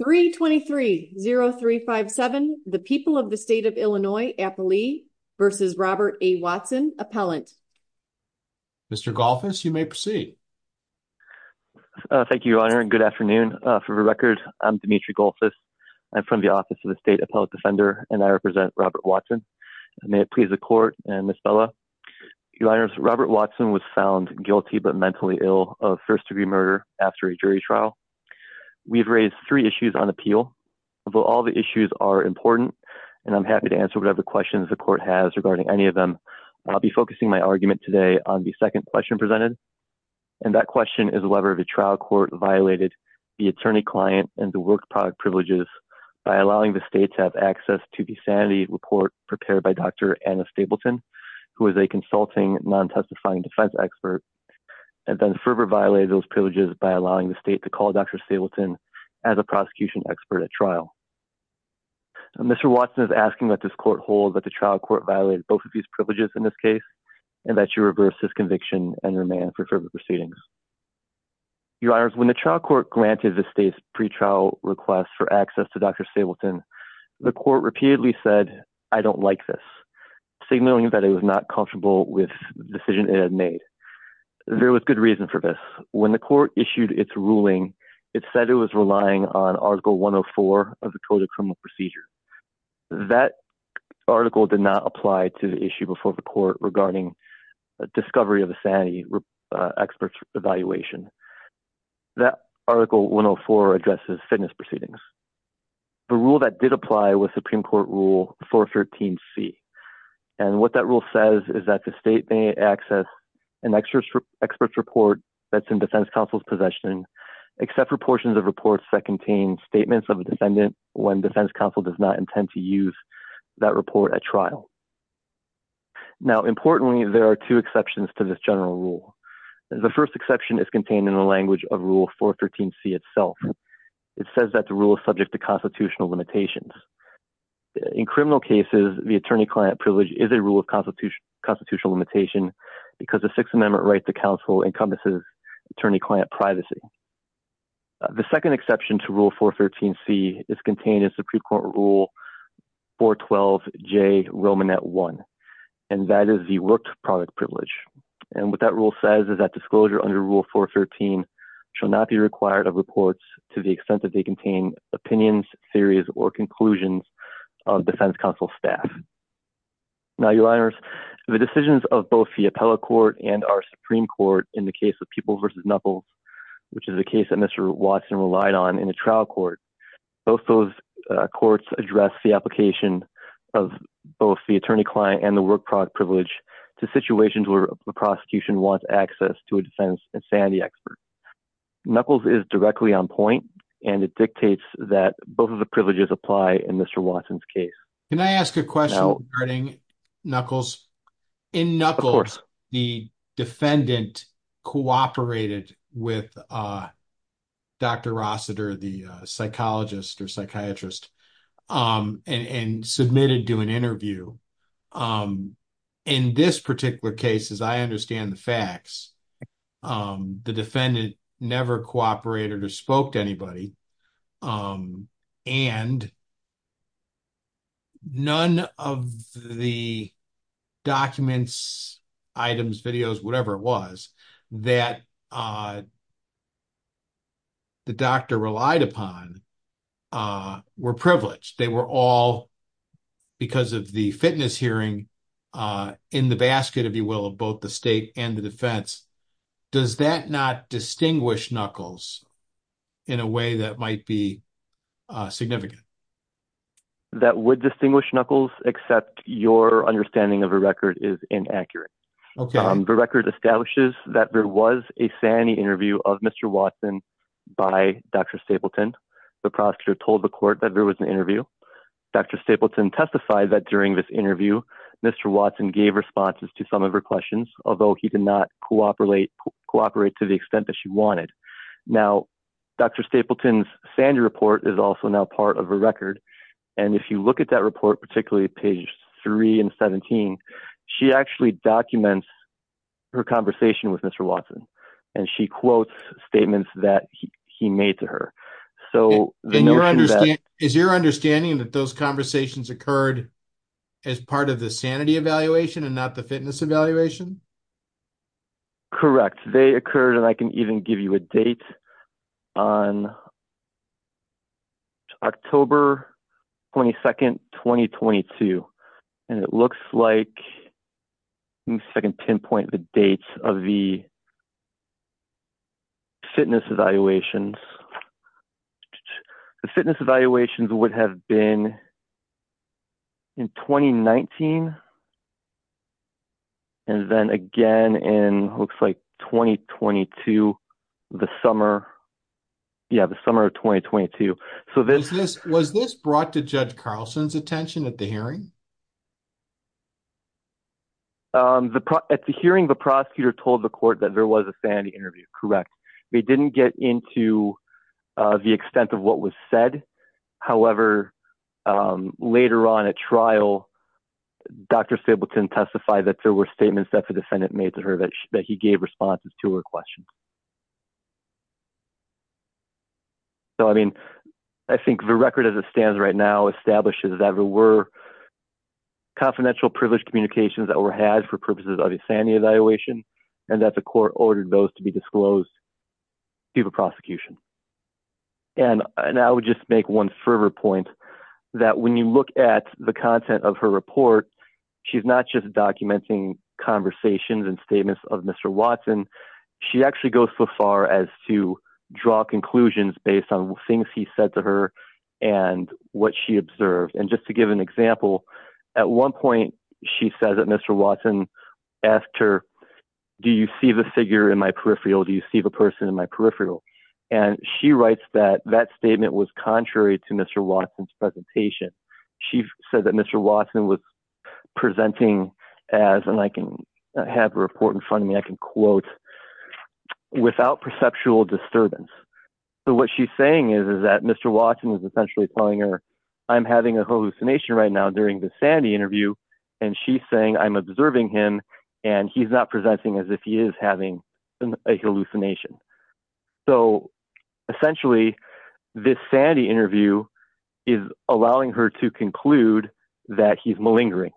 323-0357, the people of the state of Illinois, Appalachia v. Robert A. Watson, Appellant. Mr. Golfis, you may proceed. Thank you, Your Honor, and good afternoon. For the record, I'm Demetri Golfis. I'm from the Office of the State Appellant Defender, and I represent Robert Watson. May it please the Court and Ms. Bella. Your Honors, Robert Watson was found guilty but mentally ill of first-degree murder after a jury trial. We've raised three issues on appeal. Although all the issues are important, and I'm happy to answer whatever questions the Court has regarding any of them, I'll be focusing my argument today on the second question presented. And that question is whether the trial court violated the attorney-client and the work product privileges by allowing the state to have access to the sanity report prepared by Dr. Anna Stapleton, who is a consulting, non-testifying defense expert, and then fervor violated those privileges by allowing the state to call Dr. Stapleton as a prosecution expert at trial. Mr. Watson is asking that this Court hold that the trial court violated both of these privileges in this case and that you reverse his conviction and remand for further proceedings. Your Honors, when the trial court granted the state's pretrial request for access to Dr. Stapleton, the court repeatedly said, I don't like this, signaling that it was not comfortable with the decision it had made. There was good reason for this. When the Court issued its ruling, it said it was relying on Article 104 of the Code of Criminal Procedure. That article did not apply to the issue before the Court regarding discovery of a sanity expert's evaluation. That Article 104 addresses fitness proceedings. The rule that did apply was Supreme Court Rule 413C. And what that rule says is that the state may access an expert's report that's in defense counsel's possession, except for portions of reports that contain statements of a defendant when defense counsel does not intend to use that report at trial. Now, importantly, there are two exceptions to this general rule. The first exception is contained in the language of Rule 413C itself. It says that the rule is subject to constitutional limitations. In criminal cases, the attorney-client privilege is a rule of constitutional limitation because the Sixth Amendment right to counsel encompasses attorney-client privacy. The second exception to Rule 413C is contained in Supreme Court Rule 412J, Romanette 1, and that is the worked product privilege. And what that rule says is that disclosure under Rule 413 shall not be required of reports to the extent that they contain opinions, theories, or conclusions of defense counsel staff. Now, Your Honors, the decisions of both the Appellate Court and our Supreme Court in the case of Peeples v. Knuckles, which is a case that Mr. Watson relied on in a trial court, both those courts addressed the application of both the attorney-client and the worked product privilege to situations where a prosecution wants access to a defense insanity expert. Knuckles is directly on point, and it dictates that both of the privileges apply in Mr. Watson's case. Can I ask a question regarding Knuckles? In Knuckles, the defendant cooperated with Dr. Rossiter, the psychologist or psychiatrist, and submitted to an interview. In this particular case, as I understand the facts, the defendant never cooperated or spoke to anybody, and none of the documents, items, videos, whatever it was that the doctor relied upon were privileged. They were all, because of the fitness hearing, in the basket, if you will, of both the state and the defense. Does that not distinguish Knuckles in a way that might be significant? That would distinguish Knuckles, except your understanding of the record is inaccurate. The record establishes that there was a sanity interview of Mr. Watson by Dr. Stapleton. The prosecutor told the court that there was an interview. Dr. Stapleton testified that during this interview, Mr. Watson gave responses to some of her questions, although he did not cooperate to the extent that she wanted. Now, Dr. Stapleton's sanity report is also now part of a record, and if you look at that report, particularly page 3 and 17, she actually documents her conversation with Mr. Watson, and she quotes statements that he made to her. Is your understanding that those conversations occurred as part of the sanity evaluation and not the fitness evaluation? Correct. They occurred, and I can even give you a date, on October 22, 2022. Let me second pinpoint the date of the fitness evaluations. The fitness evaluations would have been in 2019, and then again in 2022, the summer of 2022. Was this brought to Judge Carlson's attention at the hearing? At the hearing, the prosecutor told the court that there was a sanity interview. Correct. They didn't get into the extent of what was said. However, later on at trial, Dr. Stapleton testified that there were statements that the defendant made to her that he gave responses to her questions. So, I mean, I think the record as it stands right now establishes that there were confidential privileged communications that were had for purposes of a sanity evaluation, and that the court ordered those to be disclosed to the prosecution. And I would just make one further point, that when you look at the content of her report, she's not just documenting conversations and statements of Mr. Watson. She actually goes so far as to draw conclusions based on things he said to her and what she observed. And just to give an example, at one point she says that Mr. Watson asked her, Do you see the figure in my peripheral? Do you see the person in my peripheral? And she writes that that statement was contrary to Mr. Watson's presentation. She said that Mr. Watson was presenting as, and I can have a report in front of me, I can quote, without perceptual disturbance. So what she's saying is that Mr. Watson is essentially telling her, I'm having a hallucination right now during the sanity interview, and she's saying I'm observing him and he's not presenting as if he is having a hallucination. So essentially, this sanity interview is allowing her to conclude that he's malingering,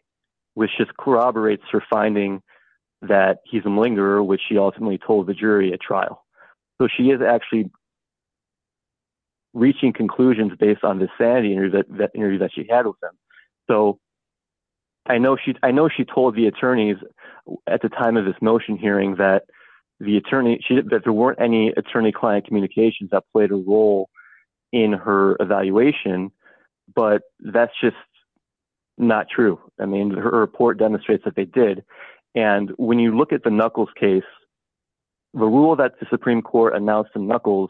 which just corroborates her finding that he's a malingerer, which she ultimately told the jury at trial. So she is actually reaching conclusions based on the sanity interview that she had with them. I know she told the attorneys at the time of this motion hearing that there weren't any attorney-client communications that played a role in her evaluation, but that's just not true. I mean, her report demonstrates that they did. And when you look at the Knuckles case, the rule that the Supreme Court announced in Knuckles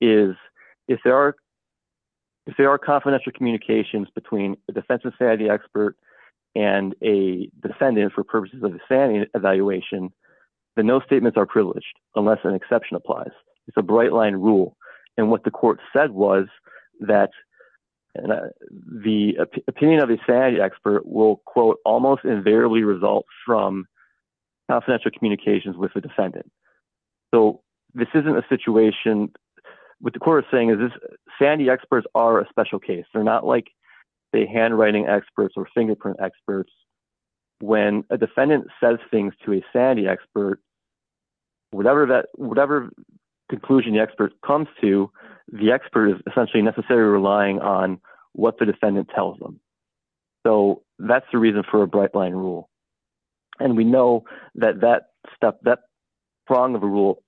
is, if there are confidential communications between a defensive sanity expert and a defendant for purposes of a sanity evaluation, then no statements are privileged unless an exception applies. It's a bright-line rule. And what the court said was that the opinion of a sanity expert will, quote, almost invariably result from confidential communications with the defendant. So this isn't a situation. What the court is saying is that sanity experts are a special case. They're not like the handwriting experts or fingerprint experts. When a defendant says things to a sanity expert, whatever conclusion the expert comes to, the expert is essentially necessarily relying on what the defendant tells them. So that's the reason for a bright-line rule. And we know that that prong of a rule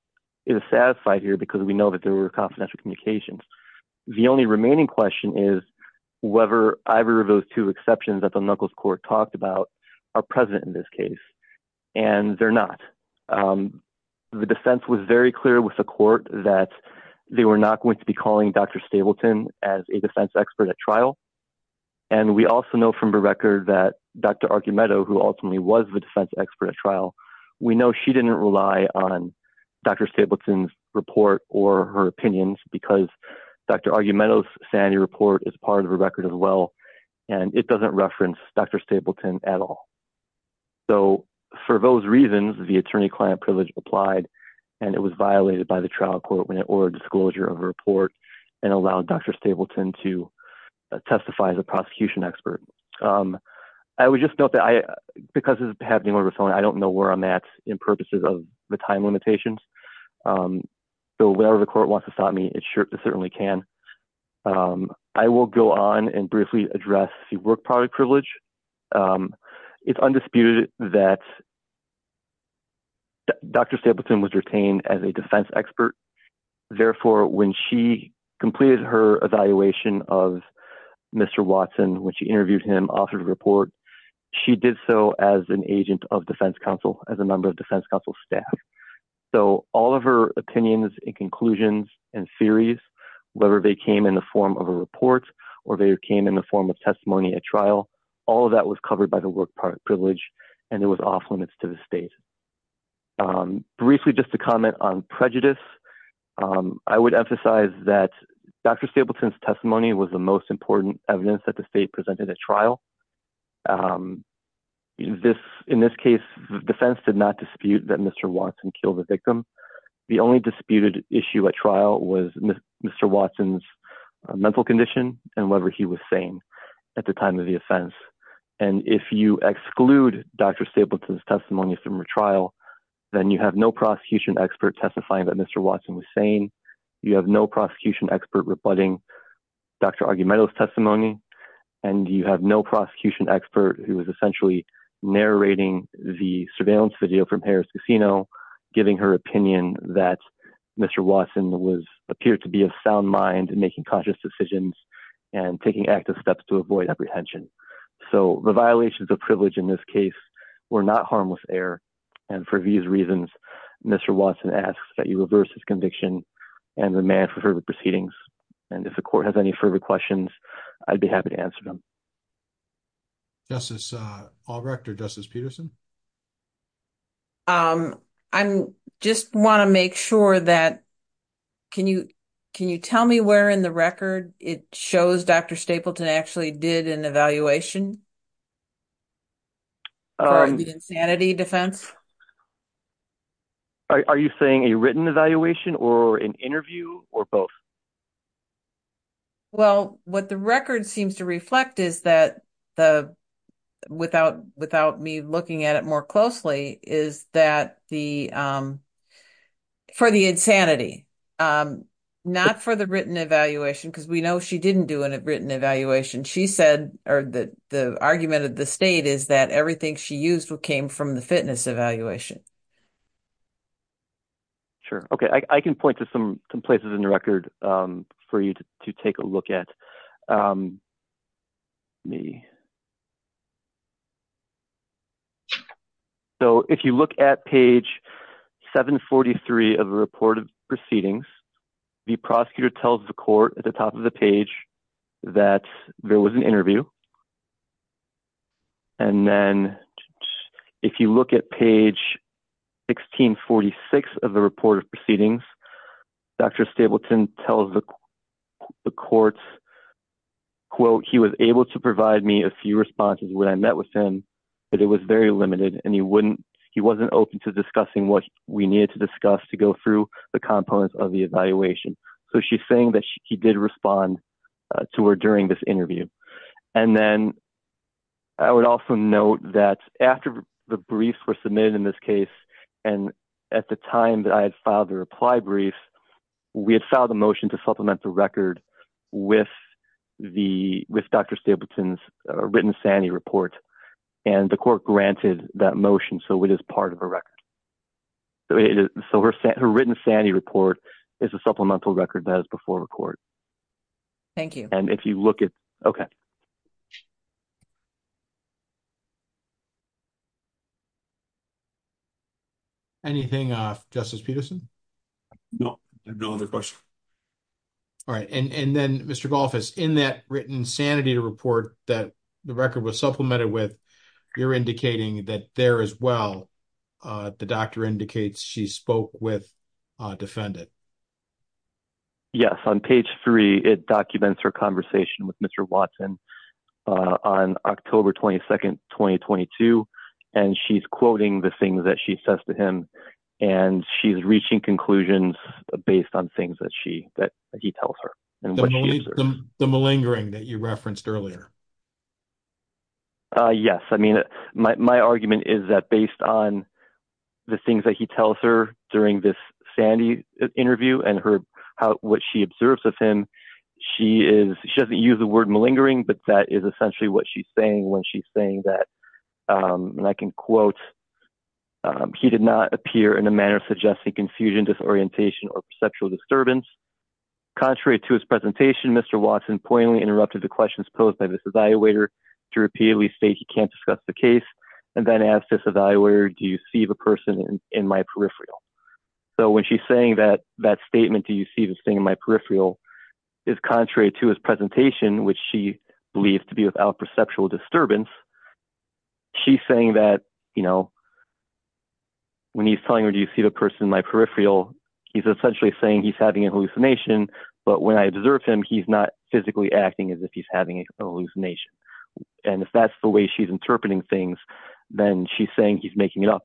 is satisfied here because we know that there were confidential communications. The only remaining question is whether either of those two exceptions that the Knuckles court talked about are present in this case. And they're not. The defense was very clear with the court that they were not going to be calling Dr. Stableton as a defense expert at trial. And we also know from the record that Dr. Argumento, who ultimately was the defense expert at trial, we know she didn't rely on Dr. Stableton's report or her opinions because Dr. Argumento's sanity report is part of her record as well, and it doesn't reference Dr. Stableton at all. So for those reasons, the attorney-client privilege applied, and it was violated by the trial court when it ordered disclosure of a report and allowed Dr. Stableton to testify as a prosecution expert. I would just note that because this is happening over the phone, I don't know where I'm at in purposes of the time limitations. So whatever the court wants to stop me, it certainly can. I will go on and briefly address the work product privilege. It's undisputed that Dr. Stableton was retained as a defense expert. Therefore, when she completed her evaluation of Mr. Watson, when she interviewed him, authored a report, she did so as an agent of defense counsel, as a member of defense counsel staff. So all of her opinions and conclusions and theories, whether they came in the form of a report or they came in the form of testimony at trial, all of that was covered by the work product privilege, and it was off limits to the state. Briefly, just to comment on prejudice, I would emphasize that Dr. Stableton's testimony was the most important evidence that the state presented at trial. In this case, the defense did not dispute that Mr. Watson killed the victim. The only disputed issue at trial was Mr. Watson's mental condition and whatever he was saying at the time of the offense. And if you exclude Dr. Stableton's testimony from a trial, then you have no prosecution expert testifying that Mr. Watson was saying. You have no prosecution expert rebutting Dr. Argumento's testimony, and you have no prosecution expert who is essentially narrating the surveillance video from Harris Casino, giving her opinion that Mr. Watson appeared to be of sound mind, making cautious decisions, and taking active steps to avoid apprehension. So the violations of privilege in this case were not harmless error, and for these reasons, Mr. Watson asks that you reverse his conviction and remand for further proceedings. And if the court has any further questions, I'd be happy to answer them. Justice Albrecht or Justice Peterson? I just want to make sure that – can you tell me where in the record it shows Dr. Stapleton actually did an evaluation? For the insanity defense? Are you saying a written evaluation or an interview or both? Well, what the record seems to reflect is that the – without me looking at it more closely, is that the – for the insanity, not for the written evaluation, because we know she didn't do a written evaluation. She said – or the argument of the state is that everything she used came from the fitness evaluation. Sure. Okay, I can point to some places in the record for you to take a look at. So if you look at page 743 of the report of proceedings, the prosecutor tells the court at the top of the page that there was an interview. And then if you look at page 1646 of the report of proceedings, Dr. Stapleton tells the court, quote, he was able to provide me a few responses when I met with him, but it was very limited and he wouldn't – he wasn't open to discussing what we needed to discuss to go through the components of the evaluation. So she's saying that he did respond to her during this interview. And then I would also note that after the briefs were submitted in this case, and at the time that I had filed the reply brief, we had filed a motion to supplement the record with the – with Dr. Stapleton's written sanity report. And the court granted that motion, so it is part of a record. So her written sanity report is a supplemental record that is before the court. Thank you. And if you look at – okay. Anything, Justice Peterson? No, I have no other questions. All right. And then, Mr. Golfus, in that written sanity report that the record was supplemented with, you're indicating that there as well, the doctor indicates she spoke with a defendant. Yes. On page three, it documents her conversation with Mr. Watson on October 22nd, 2022, and she's quoting the things that she says to him, and she's reaching conclusions based on things that she – that he tells her. The malingering that you referenced earlier. Yes. I mean, my argument is that based on the things that he tells her during this sanity interview and her – what she observes of him, she is – she doesn't use the word malingering, but that is essentially what she's saying when she's saying that, and I can quote, he did not appear in a manner of suggesting confusion, disorientation, or perceptual disturbance. Contrary to his presentation, Mr. Watson poignantly interrupted the questions posed by this evaluator to repeatedly state he can't discuss the case, and then asked this evaluator, do you see the person in my peripheral? So when she's saying that statement, do you see this thing in my peripheral, is contrary to his presentation, which she believes to be without perceptual disturbance, she's saying that, you know, when he's telling her, do you see the person in my peripheral, he's essentially saying he's having a hallucination, but when I observe him, he's not physically acting as if he's having a hallucination. And if that's the way she's interpreting things, then she's saying he's making it up,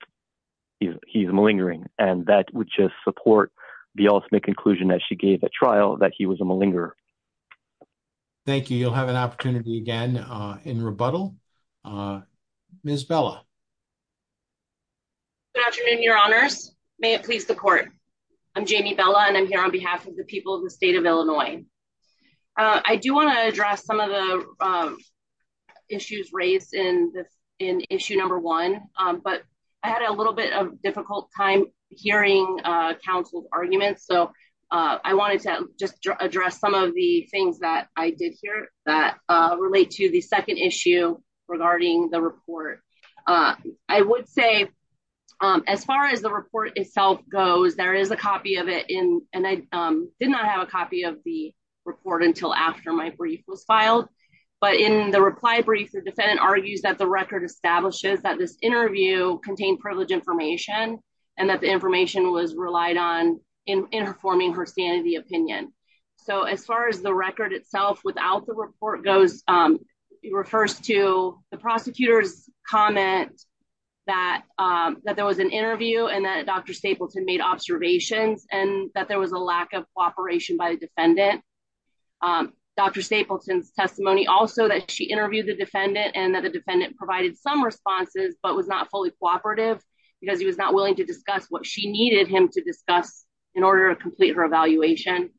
he's malingering, and that would just support the ultimate conclusion that she gave at trial, that he was a malinger. Thank you. You'll have an opportunity again in rebuttal. Ms. Bella. Good afternoon, your honors. May it please the court. I'm Jamie Bella, and I'm here on behalf of the people of the state of Illinois. I do want to address some of the issues raised in issue number one, but I had a little bit of a difficult time hearing counsel's arguments, so I wanted to just address some of the things that I did hear that relate to the second issue regarding the report. I would say, as far as the report itself goes, there is a copy of it, and I did not have a copy of the report until after my brief was filed. But in the reply brief, the defendant argues that the record establishes that this interview contained privileged information, and that the information was relied on in informing her sanity opinion. So as far as the record itself without the report goes, it refers to the prosecutor's comment that there was an interview and that Dr. Stapleton made observations, and that there was a lack of cooperation by the defendant. Dr. Stapleton's testimony also that she interviewed the defendant and that the defendant provided some responses but was not fully cooperative, because he was not willing to discuss what she needed him to discuss in order to complete her evaluation.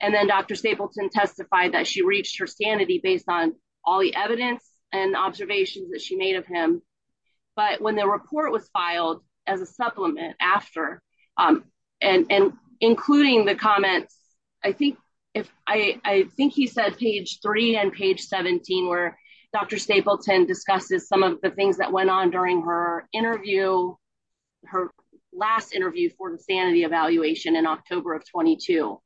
And then Dr. Stapleton testified that she reached her sanity based on all the evidence and observations that she made of him. But when the report was filed as a supplement after, and including the comments, I think he said page three and page 17, where Dr. Stapleton discusses some of the things that went on during her interview, her last interview for the sanity evaluation in October of 22.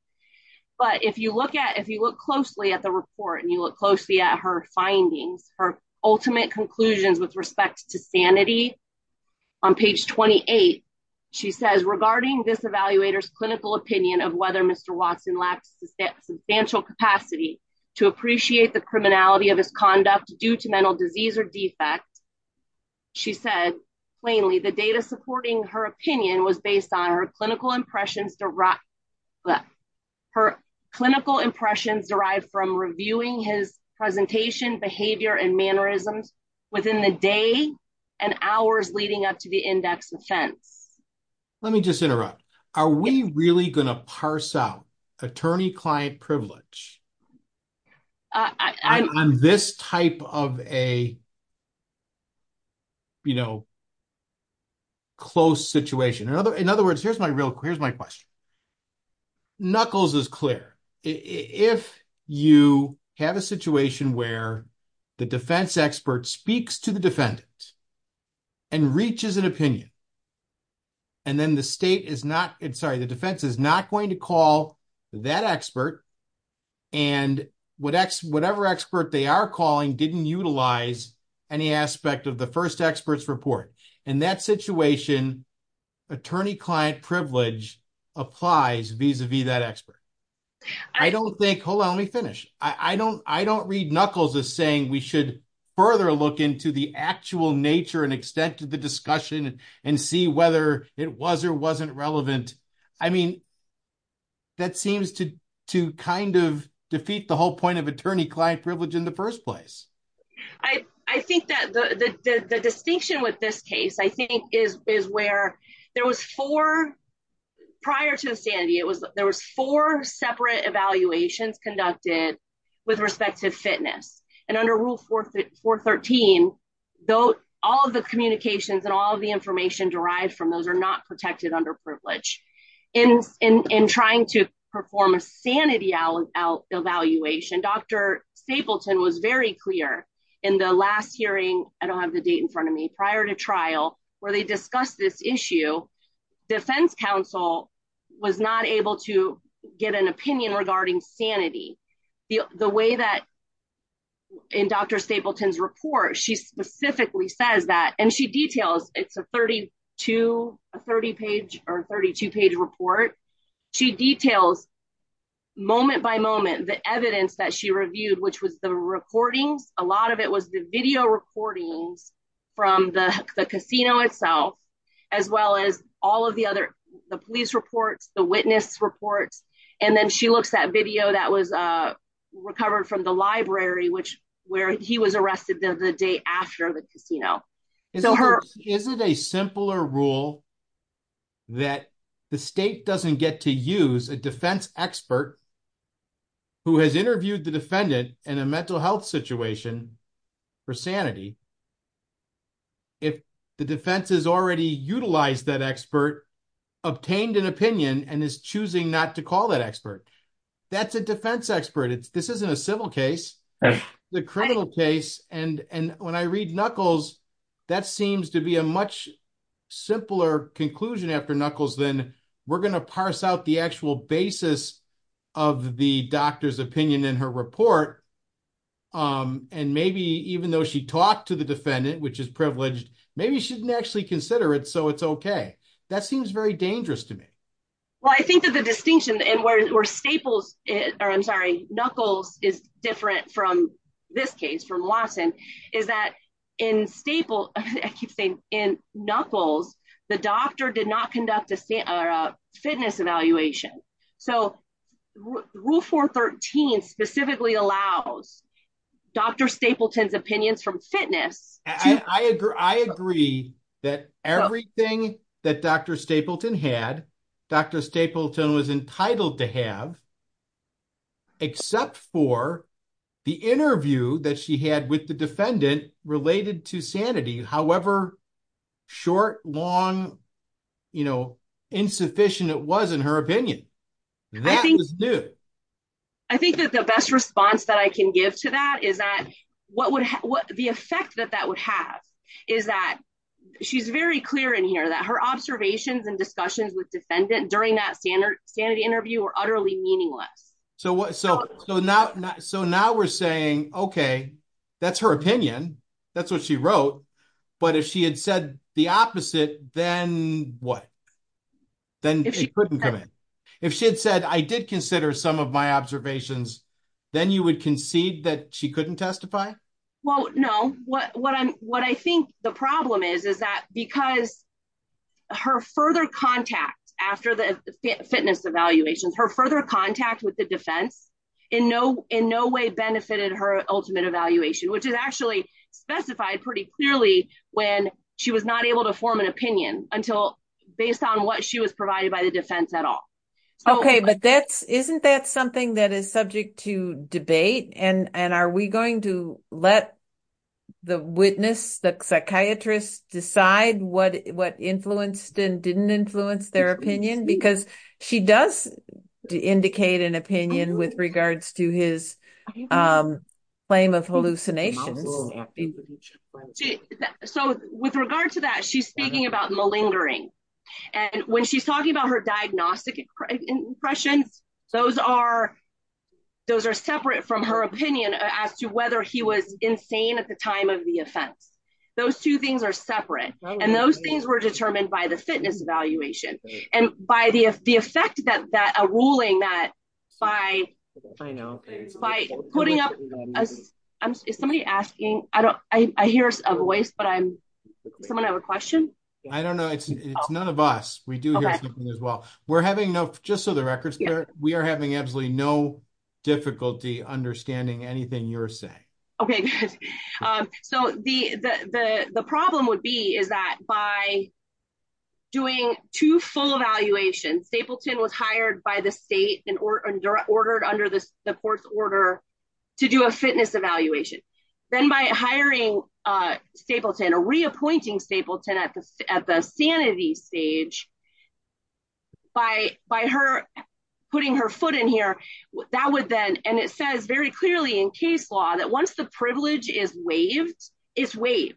But if you look closely at the report and you look closely at her findings, her ultimate conclusions with respect to sanity. On page 28, she says regarding this evaluator's clinical opinion of whether Mr. Watson lacks substantial capacity to appreciate the criminality of his conduct due to mental disease or defect. She said plainly the data supporting her opinion was based on her clinical impressions derived from reviewing his presentation, behavior, and mannerisms within the day and hours leading up to the index offense. Let me just interrupt. Are we really going to parse out attorney-client privilege? On this type of a, you know, close situation. In other words, here's my real, here's my question. Knuckles is clear. If you have a situation where the defense expert speaks to the defendant and reaches an opinion, and then the state is not, sorry, the defense is not going to call that expert. And whatever expert they are calling didn't utilize any aspect of the first expert's report. In that situation, attorney-client privilege applies vis-a-vis that expert. I don't think, hold on, let me finish. I don't read Knuckles as saying we should further look into the actual nature and extent of the discussion and see whether it was or wasn't relevant. I mean, that seems to kind of defeat the whole point of attorney-client privilege in the first place. I think that the distinction with this case, I think, is where there was four, prior to the sanity, there was four separate evaluations conducted with respect to fitness. And under Rule 413, all of the communications and all of the information derived from those are not protected under privilege. In trying to perform a sanity evaluation, Dr. Stapleton was very clear in the last hearing, I don't have the date in front of me, prior to trial, where they discussed this issue, defense counsel was not able to get an opinion regarding sanity. The way that, in Dr. Stapleton's report, she specifically says that, and she details, it's a 32-page report. She details, moment by moment, the evidence that she reviewed, which was the recordings, a lot of it was the video recordings from the casino itself, as well as all of the other, the police reports, the witness reports. And then she looks at video that was recovered from the library, which, where he was arrested the day after the casino. Is it a simpler rule that the state doesn't get to use a defense expert who has interviewed the defendant in a mental health situation for sanity, if the defense has already utilized that expert, obtained an opinion, and is choosing not to call that expert? That's a defense expert, this isn't a civil case, it's a criminal case, and when I read Knuckles, that seems to be a much simpler conclusion after Knuckles than, we're going to parse out the actual basis of the doctor's opinion in her report. And maybe, even though she talked to the defendant, which is privileged, maybe she didn't actually consider it, so it's okay. That seems very dangerous to me. Well, I think that the distinction, and where Staples, or I'm sorry, Knuckles is different from this case, from Lawson, is that in Staples, I keep saying, in Knuckles, the doctor did not conduct a fitness evaluation. So, Rule 413 specifically allows Dr. Stapleton's opinions from fitness. I agree that everything that Dr. Stapleton had, Dr. Stapleton was entitled to have, except for the interview that she had with the defendant related to sanity, however short, long, insufficient it was in her opinion. I think that the best response that I can give to that is that the effect that that would have is that she's very clear in here that her observations and discussions with defendant during that sanity interview were utterly meaningless. So now we're saying, okay, that's her opinion, that's what she wrote, but if she had said the opposite, then what? If she had said, I did consider some of my observations, then you would concede that she couldn't testify? Well, no. What I think the problem is, is that because her further contact after the fitness evaluations, her further contact with the defense, in no way benefited her ultimate evaluation, which is actually specified pretty clearly when she was not able to form an opinion, until based on what she was provided by the defense at all. Okay, but isn't that something that is subject to debate? And are we going to let the witness, the psychiatrist, decide what influenced and didn't influence their opinion? Because she does indicate an opinion with regards to his claim of hallucinations. So with regard to that, she's speaking about malingering. And when she's talking about her diagnostic impressions, those are separate from her opinion as to whether he was insane at the time of the offense. Those two things are separate. And those things were determined by the fitness evaluation. And by the effect that a ruling that by putting up, is somebody asking? I hear a voice, but someone have a question? I don't know. It's none of us. We do hear something as well. We're having no, just so the record's clear, we are having absolutely no difficulty understanding anything you're saying. Okay, good. So the problem would be is that by doing two full evaluations, Stapleton was hired by the state and ordered under the court's order to do a fitness evaluation. Then by hiring Stapleton or reappointing Stapleton at the sanity stage, by her putting her foot in here, that would then, and it says very clearly in case law that once the privilege is waived, it's waived.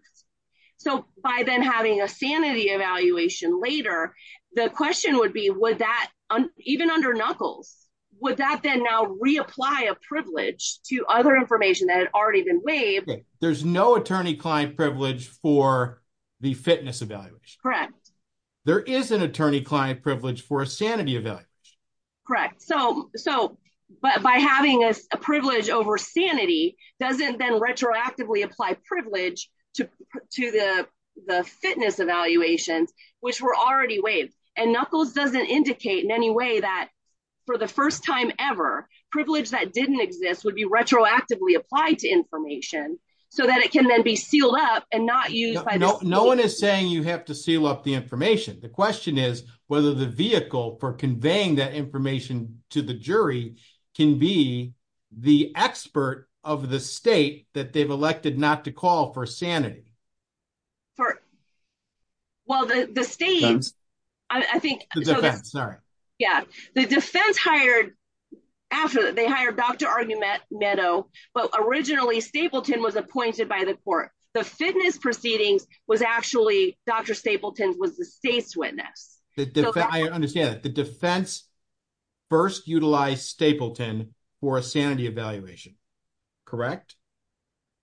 So by then having a sanity evaluation later, the question would be, would that even under Knuckles, would that then now reapply a privilege to other information that had already been waived? There's no attorney-client privilege for the fitness evaluation. There is an attorney-client privilege for a sanity evaluation. Correct. So by having a privilege over sanity doesn't then retroactively apply privilege to the fitness evaluations, which were already waived. And Knuckles doesn't indicate in any way that for the first time ever, privilege that didn't exist would be retroactively applied to information so that it can then be sealed up and not used by the state. So the defense, I'm sorry. Yeah. The defense hired, after they hired Dr. Argumento, but originally Stapleton was appointed by the court. The fitness proceedings was actually, Dr. Stapleton was the state's witness. I understand that. The defense hired Dr. Argumento. First utilized Stapleton for a sanity evaluation. Correct?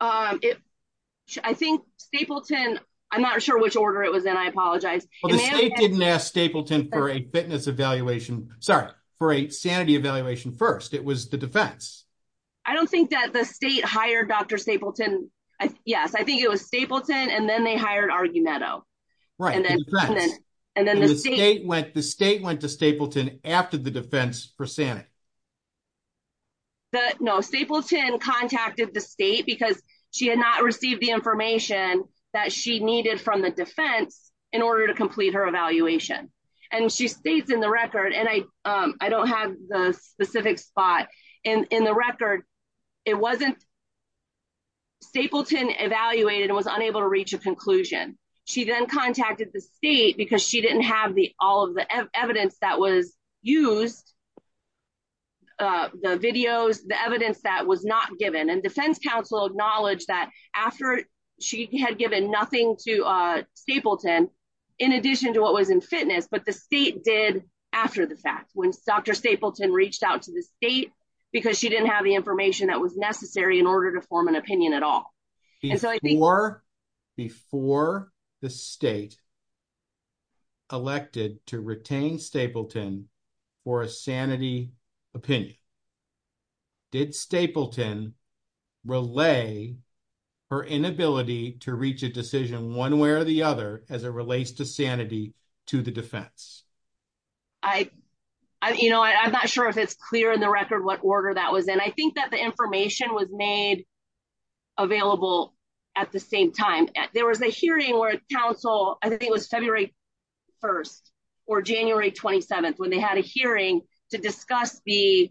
I think Stapleton, I'm not sure which order it was in, I apologize. The state didn't ask Stapleton for a fitness evaluation, sorry, for a sanity evaluation first. It was the defense. I don't think that the state hired Dr. Stapleton. Yes, I think it was Stapleton and then they hired Argumento. And then the state went to Stapleton after the defense for sanity. No, Stapleton contacted the state because she had not received the information that she needed from the defense in order to complete her evaluation. And she states in the record, and I don't have the specific spot, in the record, it wasn't, Stapleton evaluated and was unable to reach a conclusion. She then contacted the state because she didn't have all of the evidence that was used, the videos, the evidence that was not given. And defense counsel acknowledged that after she had given nothing to Stapleton, in addition to what was in fitness, but the state did after the fact. When Dr. Stapleton reached out to the state because she didn't have the information that was necessary in order to form an opinion at all. Before the state elected to retain Stapleton for a sanity opinion, did Stapleton relay her inability to reach a decision one way or the other as it relates to sanity to the defense? I'm not sure if it's clear in the record what order that was in. I think that the information was made available at the same time. There was a hearing where counsel, I think it was February 1st or January 27th, when they had a hearing to discuss the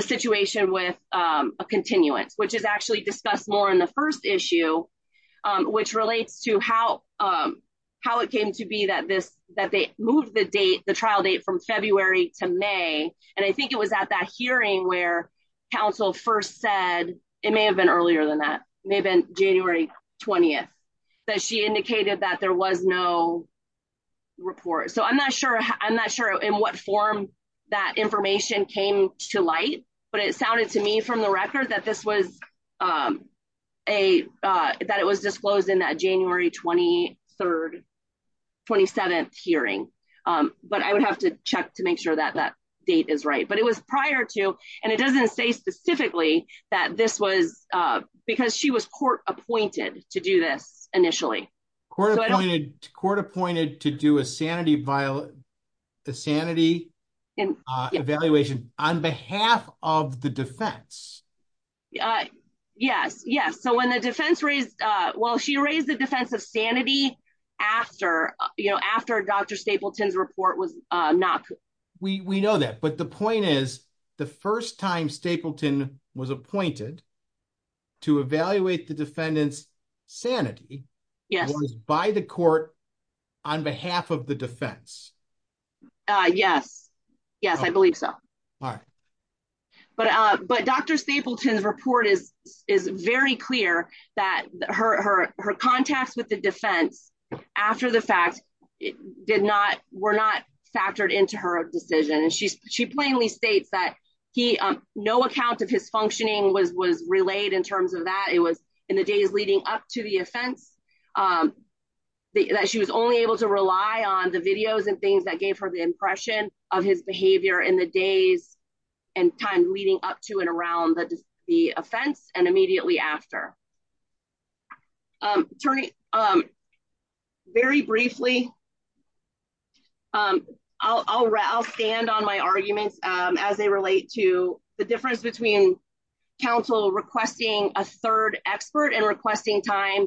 situation with a continuance, which is actually discussed more in the first issue, which relates to how it came to be that they moved the trial date from February to May. And I think it was at that hearing where counsel first said, it may have been earlier than that, it may have been January 20th, that she indicated that there was no report. So I'm not sure in what form that information came to light, but it sounded to me from the record that it was disclosed in that January 27th hearing. But I would have to check to make sure that that date is right. But it was prior to, and it doesn't say specifically that this was because she was court appointed to do this initially. Court appointed to do a sanity evaluation on behalf of the defense. Yes. So when the defense raised, well, she raised the defense of sanity after Dr. Stapleton's report was not. We know that, but the point is the first time Stapleton was appointed to evaluate the defendant's sanity. Yes. Was by the court on behalf of the defense. Yes. Yes, I believe so. All right. But Dr. Stapleton's report is very clear that her contacts with the defense after the fact were not factored into her decision. And she's she plainly states that he no account of his functioning was was relayed in terms of that. It was in the days leading up to the offense that she was only able to rely on the videos and things that gave her the impression of his behavior in the days and time leading up to and around the defense and immediately after. Turning. Very briefly, I'll stand on my arguments as they relate to the difference between counsel requesting a third expert and requesting time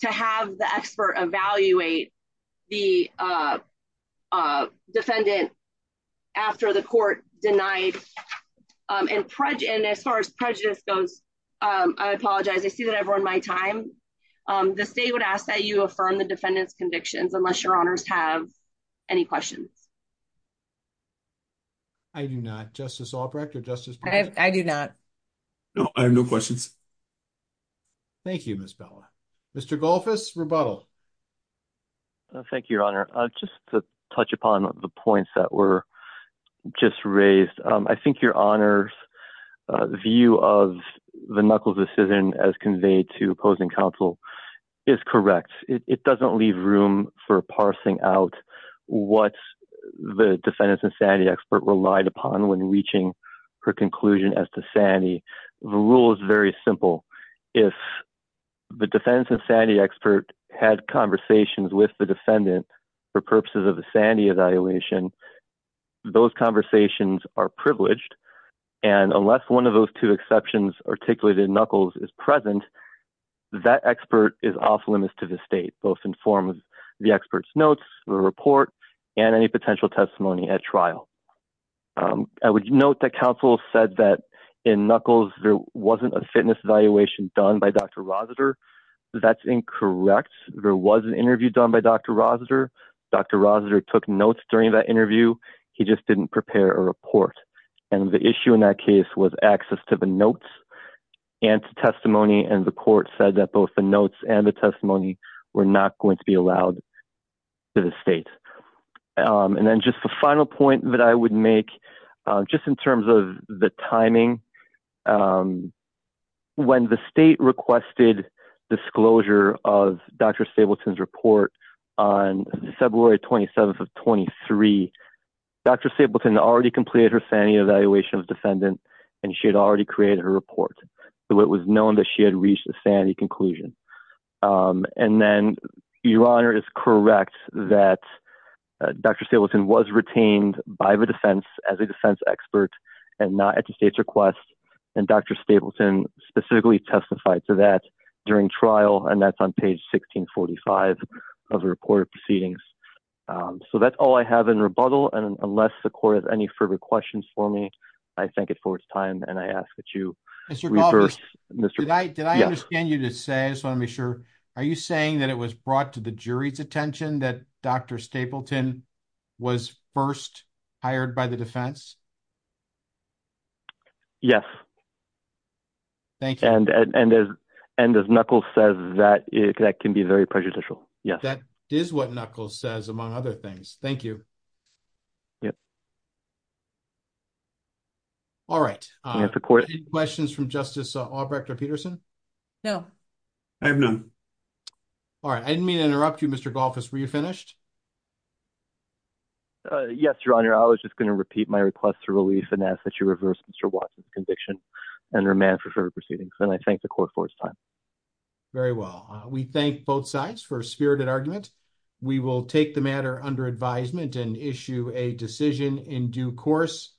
to have the expert evaluate the defendant after the court denied. And as far as prejudice goes, I apologize. I see that I've run my time. The state would ask that you affirm the defendant's convictions unless your honors have any questions. I do not. Justice Albrecht or Justice. I do not. No, I have no questions. Thank you, Miss Bella. Mr. Golfers rebuttal. Thank you, Your Honor. Just to touch upon the points that were just raised. I think your honors view of the knuckles decision as conveyed to opposing counsel is correct. It doesn't leave room for parsing out. What's the defendant's insanity expert relied upon when reaching her conclusion as to Sandy? The rule is very simple. If the defense insanity expert had conversations with the defendant for purposes of the Sandy evaluation, those conversations are privileged. And unless one of those two exceptions articulated knuckles is present, that expert is off limits to the state, both in form of the expert's notes or report and any potential testimony at trial. I would note that counsel said that in knuckles, there wasn't a fitness evaluation done by Dr. That's incorrect. There was an interview done by Dr. Dr. During that interview. He just didn't prepare a report. And the issue in that case was access to the notes and testimony. And the court said that both the notes and the testimony were not going to be allowed to the state. And then just the final point that I would make just in terms of the timing. When the state requested disclosure of Dr. Stapleton's report on February 27th of 23, Dr. Stapleton already completed her Sandy evaluation of defendant, and she had already created a report. So it was known that she had reached the Sandy conclusion. And then your honor is correct that Dr. Stapleton was retained by the defense as a defense expert and not at the state's request. And Dr. Stapleton specifically testified to that during trial. And that's on page 1645 of the report proceedings. So that's all I have in rebuttal. And unless the court has any further questions for me, I think it for its time. And I ask that you reverse. Did I understand you to say? I just want to be sure. Are you saying that it was brought to the jury's attention that Dr. Stapleton was first hired by the defense? Yes. Thank you. And as Knuckles says, that can be very prejudicial. Yes. That is what Knuckles says, among other things. Thank you. Yeah. All right. Any questions from Justice Albrecht Peterson? No. I have none. All right. I didn't mean to interrupt you, Mr. Golfers. Were you finished? Yes, your honor. I was just going to repeat my request to release and ask that you reverse Mr. Watson's conviction and remand for further proceedings. And I thank the court for its time. Very well. We thank both sides for a spirited argument. We will take the matter under advisement and issue a decision in due course.